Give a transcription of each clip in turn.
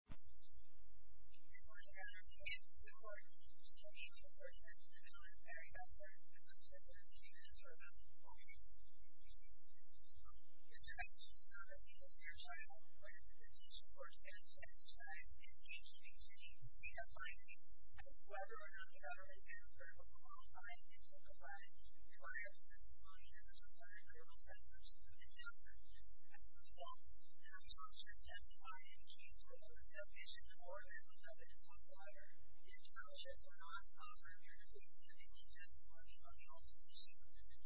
I would rather see it in court. To me, we were sent to the mill in a very bad turn, and not just in a few minutes or a couple of minutes. Mr. Hester did not receive a fair trial. When the petition was sent to exercise in the engineering team, we have finally asked whether or not the government answer was qualified and justified. We require the testimony of Mr. Flannery, a real friend of Mr. Flannery's. As a result, I am conscious as to why in the case where there was no fish in the water, the evidence was higher. I am conscious or not, however, that we are technically just working on the altercation.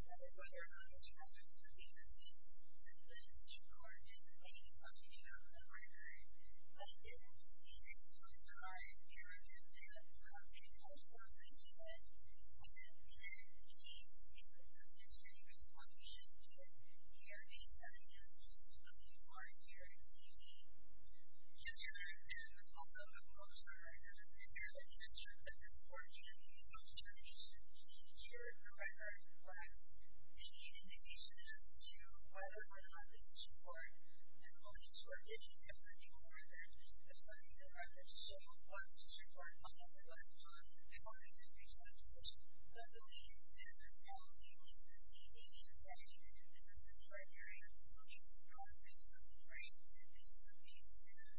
That is why we are going to try to complete this petition. The decision court did not make a decision on the record, but it is easy for us to try and narrow it down. I think that's what we did. And in the case, it was a mystery as to why we shouldn't do it. We are a seven-year-old student volunteer at CUNY. Mr. Hester is also a motion writer. Mr. Hester, if it's an opportunity for Mr. Hester to speak in your record request, any indication as to whether or not the decision court and police were giving him the record, assuming the records show what the decision court found on the record, we want to increase that decision. I believe that Mr. Hester was receiving an attachment in his assistant library, so he was constantly looking for traces and pieces of paper, and there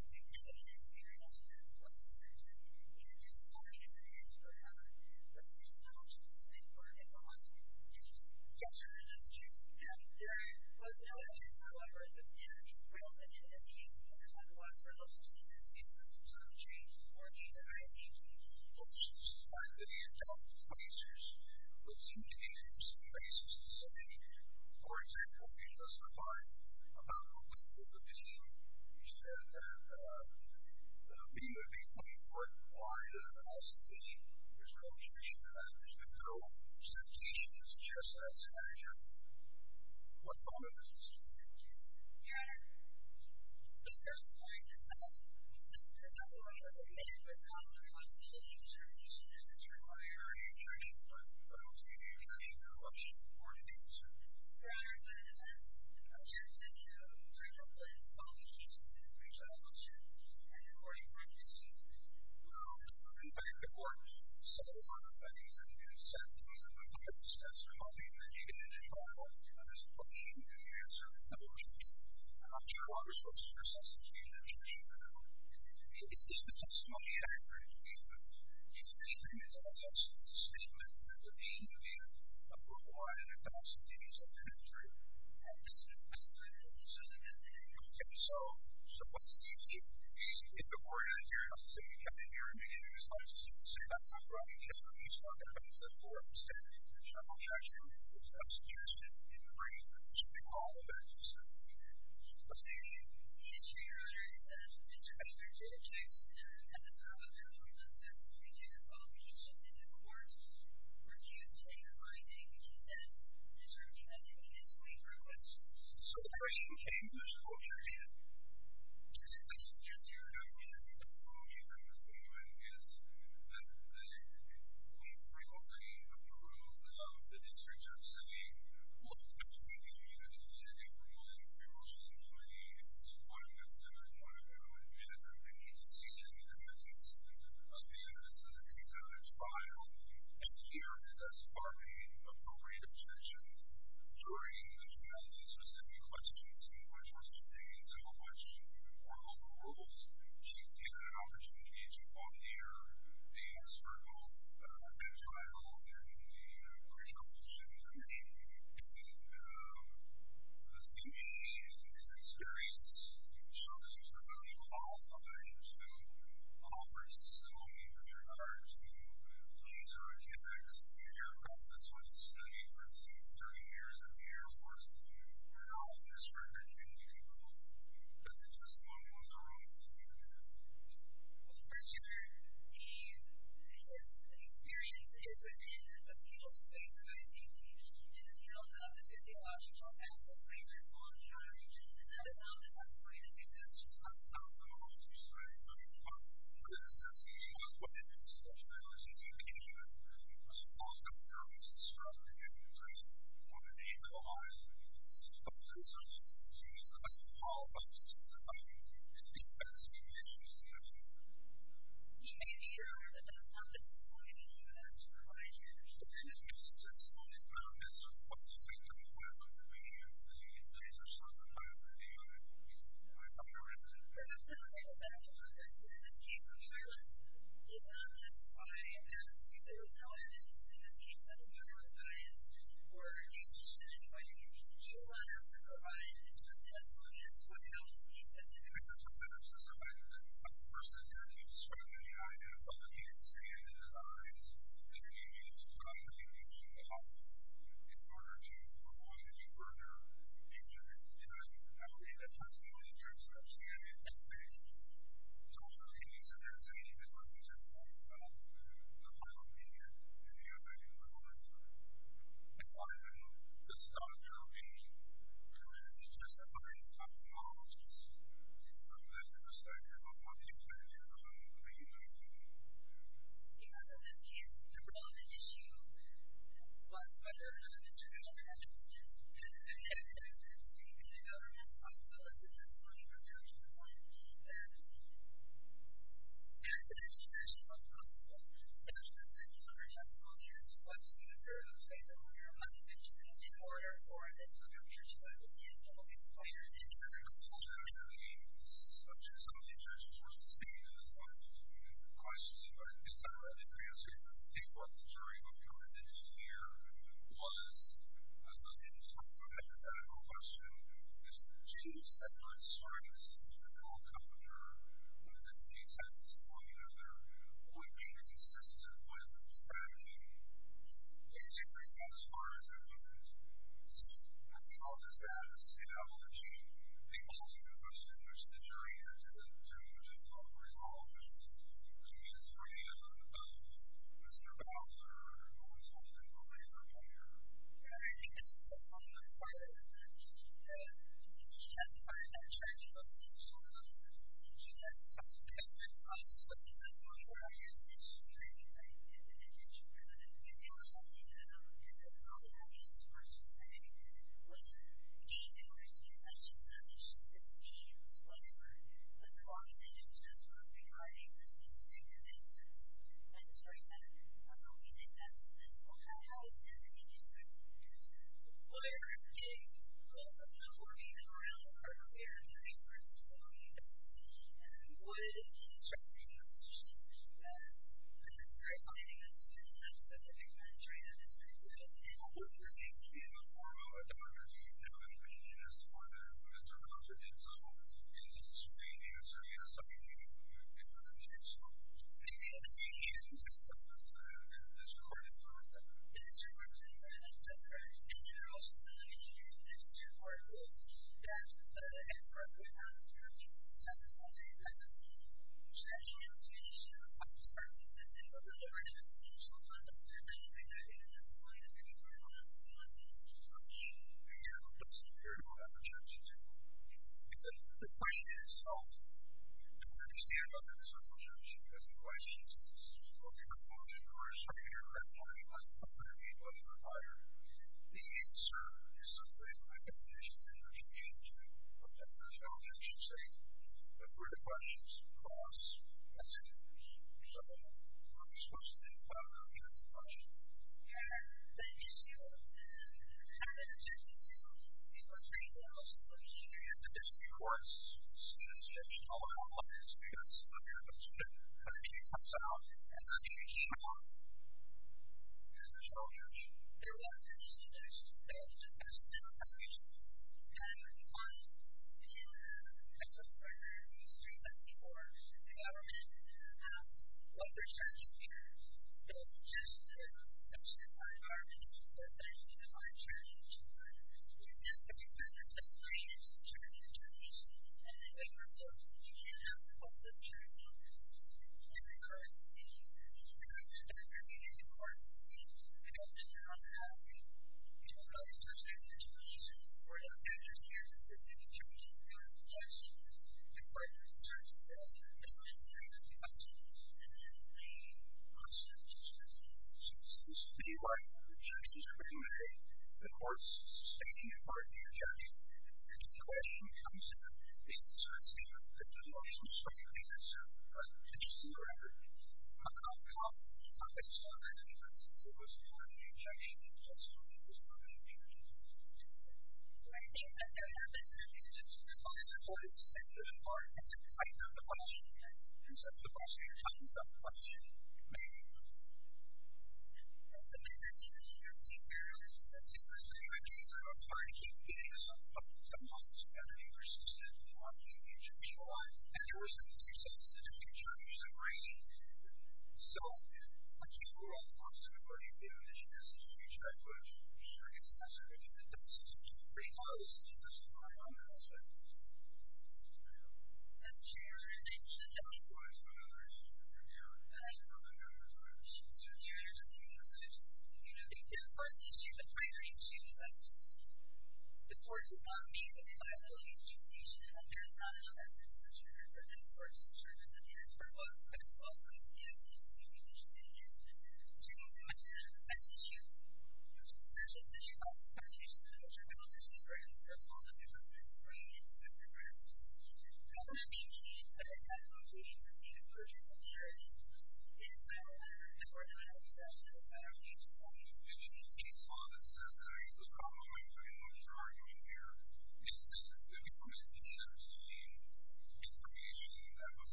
was a significant experience with this police person, even as he was an insurer. Mr. Hester, the motion was made for at the hospital. Yes, Your Honor, that's true. There was no evidence, however, that there was an entity in the water, which was a specific country, or an entity. Well, it seems to me that you're talking to police officers. It would seem to me that you're using the basis to say, for example, you justified about the length of the meeting. You said that, uh, the meeting would be 24 hours, and that was the decision. There's no indication of that. There's been no sentencing. It's just that it's a measure. What comment does this make to you? Your Honor, the first point is that, the second point is that, it makes a good point, to rely on the evidence to reduce the risk and to rely on the evidence to reduce the risk to rely on the evidence to reduce the risk of the incident, but I don't see the intention of the motion to report the incident. Your Honor, that has, that has led to a pretty reckless policy in this case, I will say, and the court did not do so. No, in fact, the court said, uh, in a sentencing, that there was no evidence of the incident at all, to this point, and the answer is no. I'm sure other sources are sensing, uh, that the, that the testimony and the evidence, and the evidence, as I said, statement that the DNA of whom I had had an accident is a good truth and is an evidence of the incident, okay, so, so what's the issue? The, if the court has a hearing on the same weekend and you hear the news, obviously the same, that's not right, yes, but you still have evidence and forms, and the general judge there's not a suggestion in the brain that you should call the bank to say, okay, so what's the issue? The issue, your honor, is that Mr. Peter J. Jackson, uh, at the time of the appointment of testimony to his qualification in this court to make a finding and said Mr. J. Jackson needed to wait for a question. So the question came from Mr. J. Jackson and the question is, your honor, the reason Mr. Newman is that they frequently approve of the district judge saying, well, I think you need to see everyone emotionally as one of them and one of them admitted that they need to see them as one of them and this is a case that is filed and here are the appropriate objections during the trial to specific questions and the court called the rules to give an opportunity to hear the expert gulls that are entitled in the pre-trial position and the CBA experience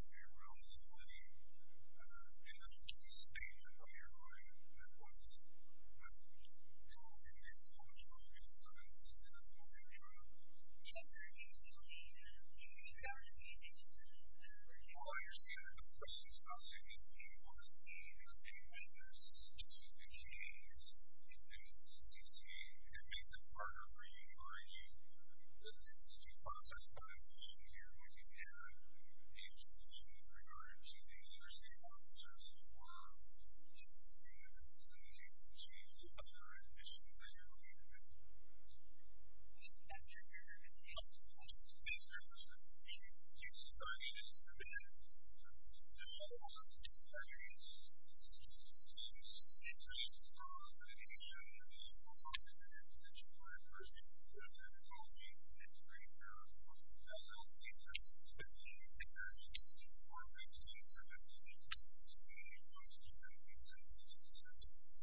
which as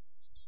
you said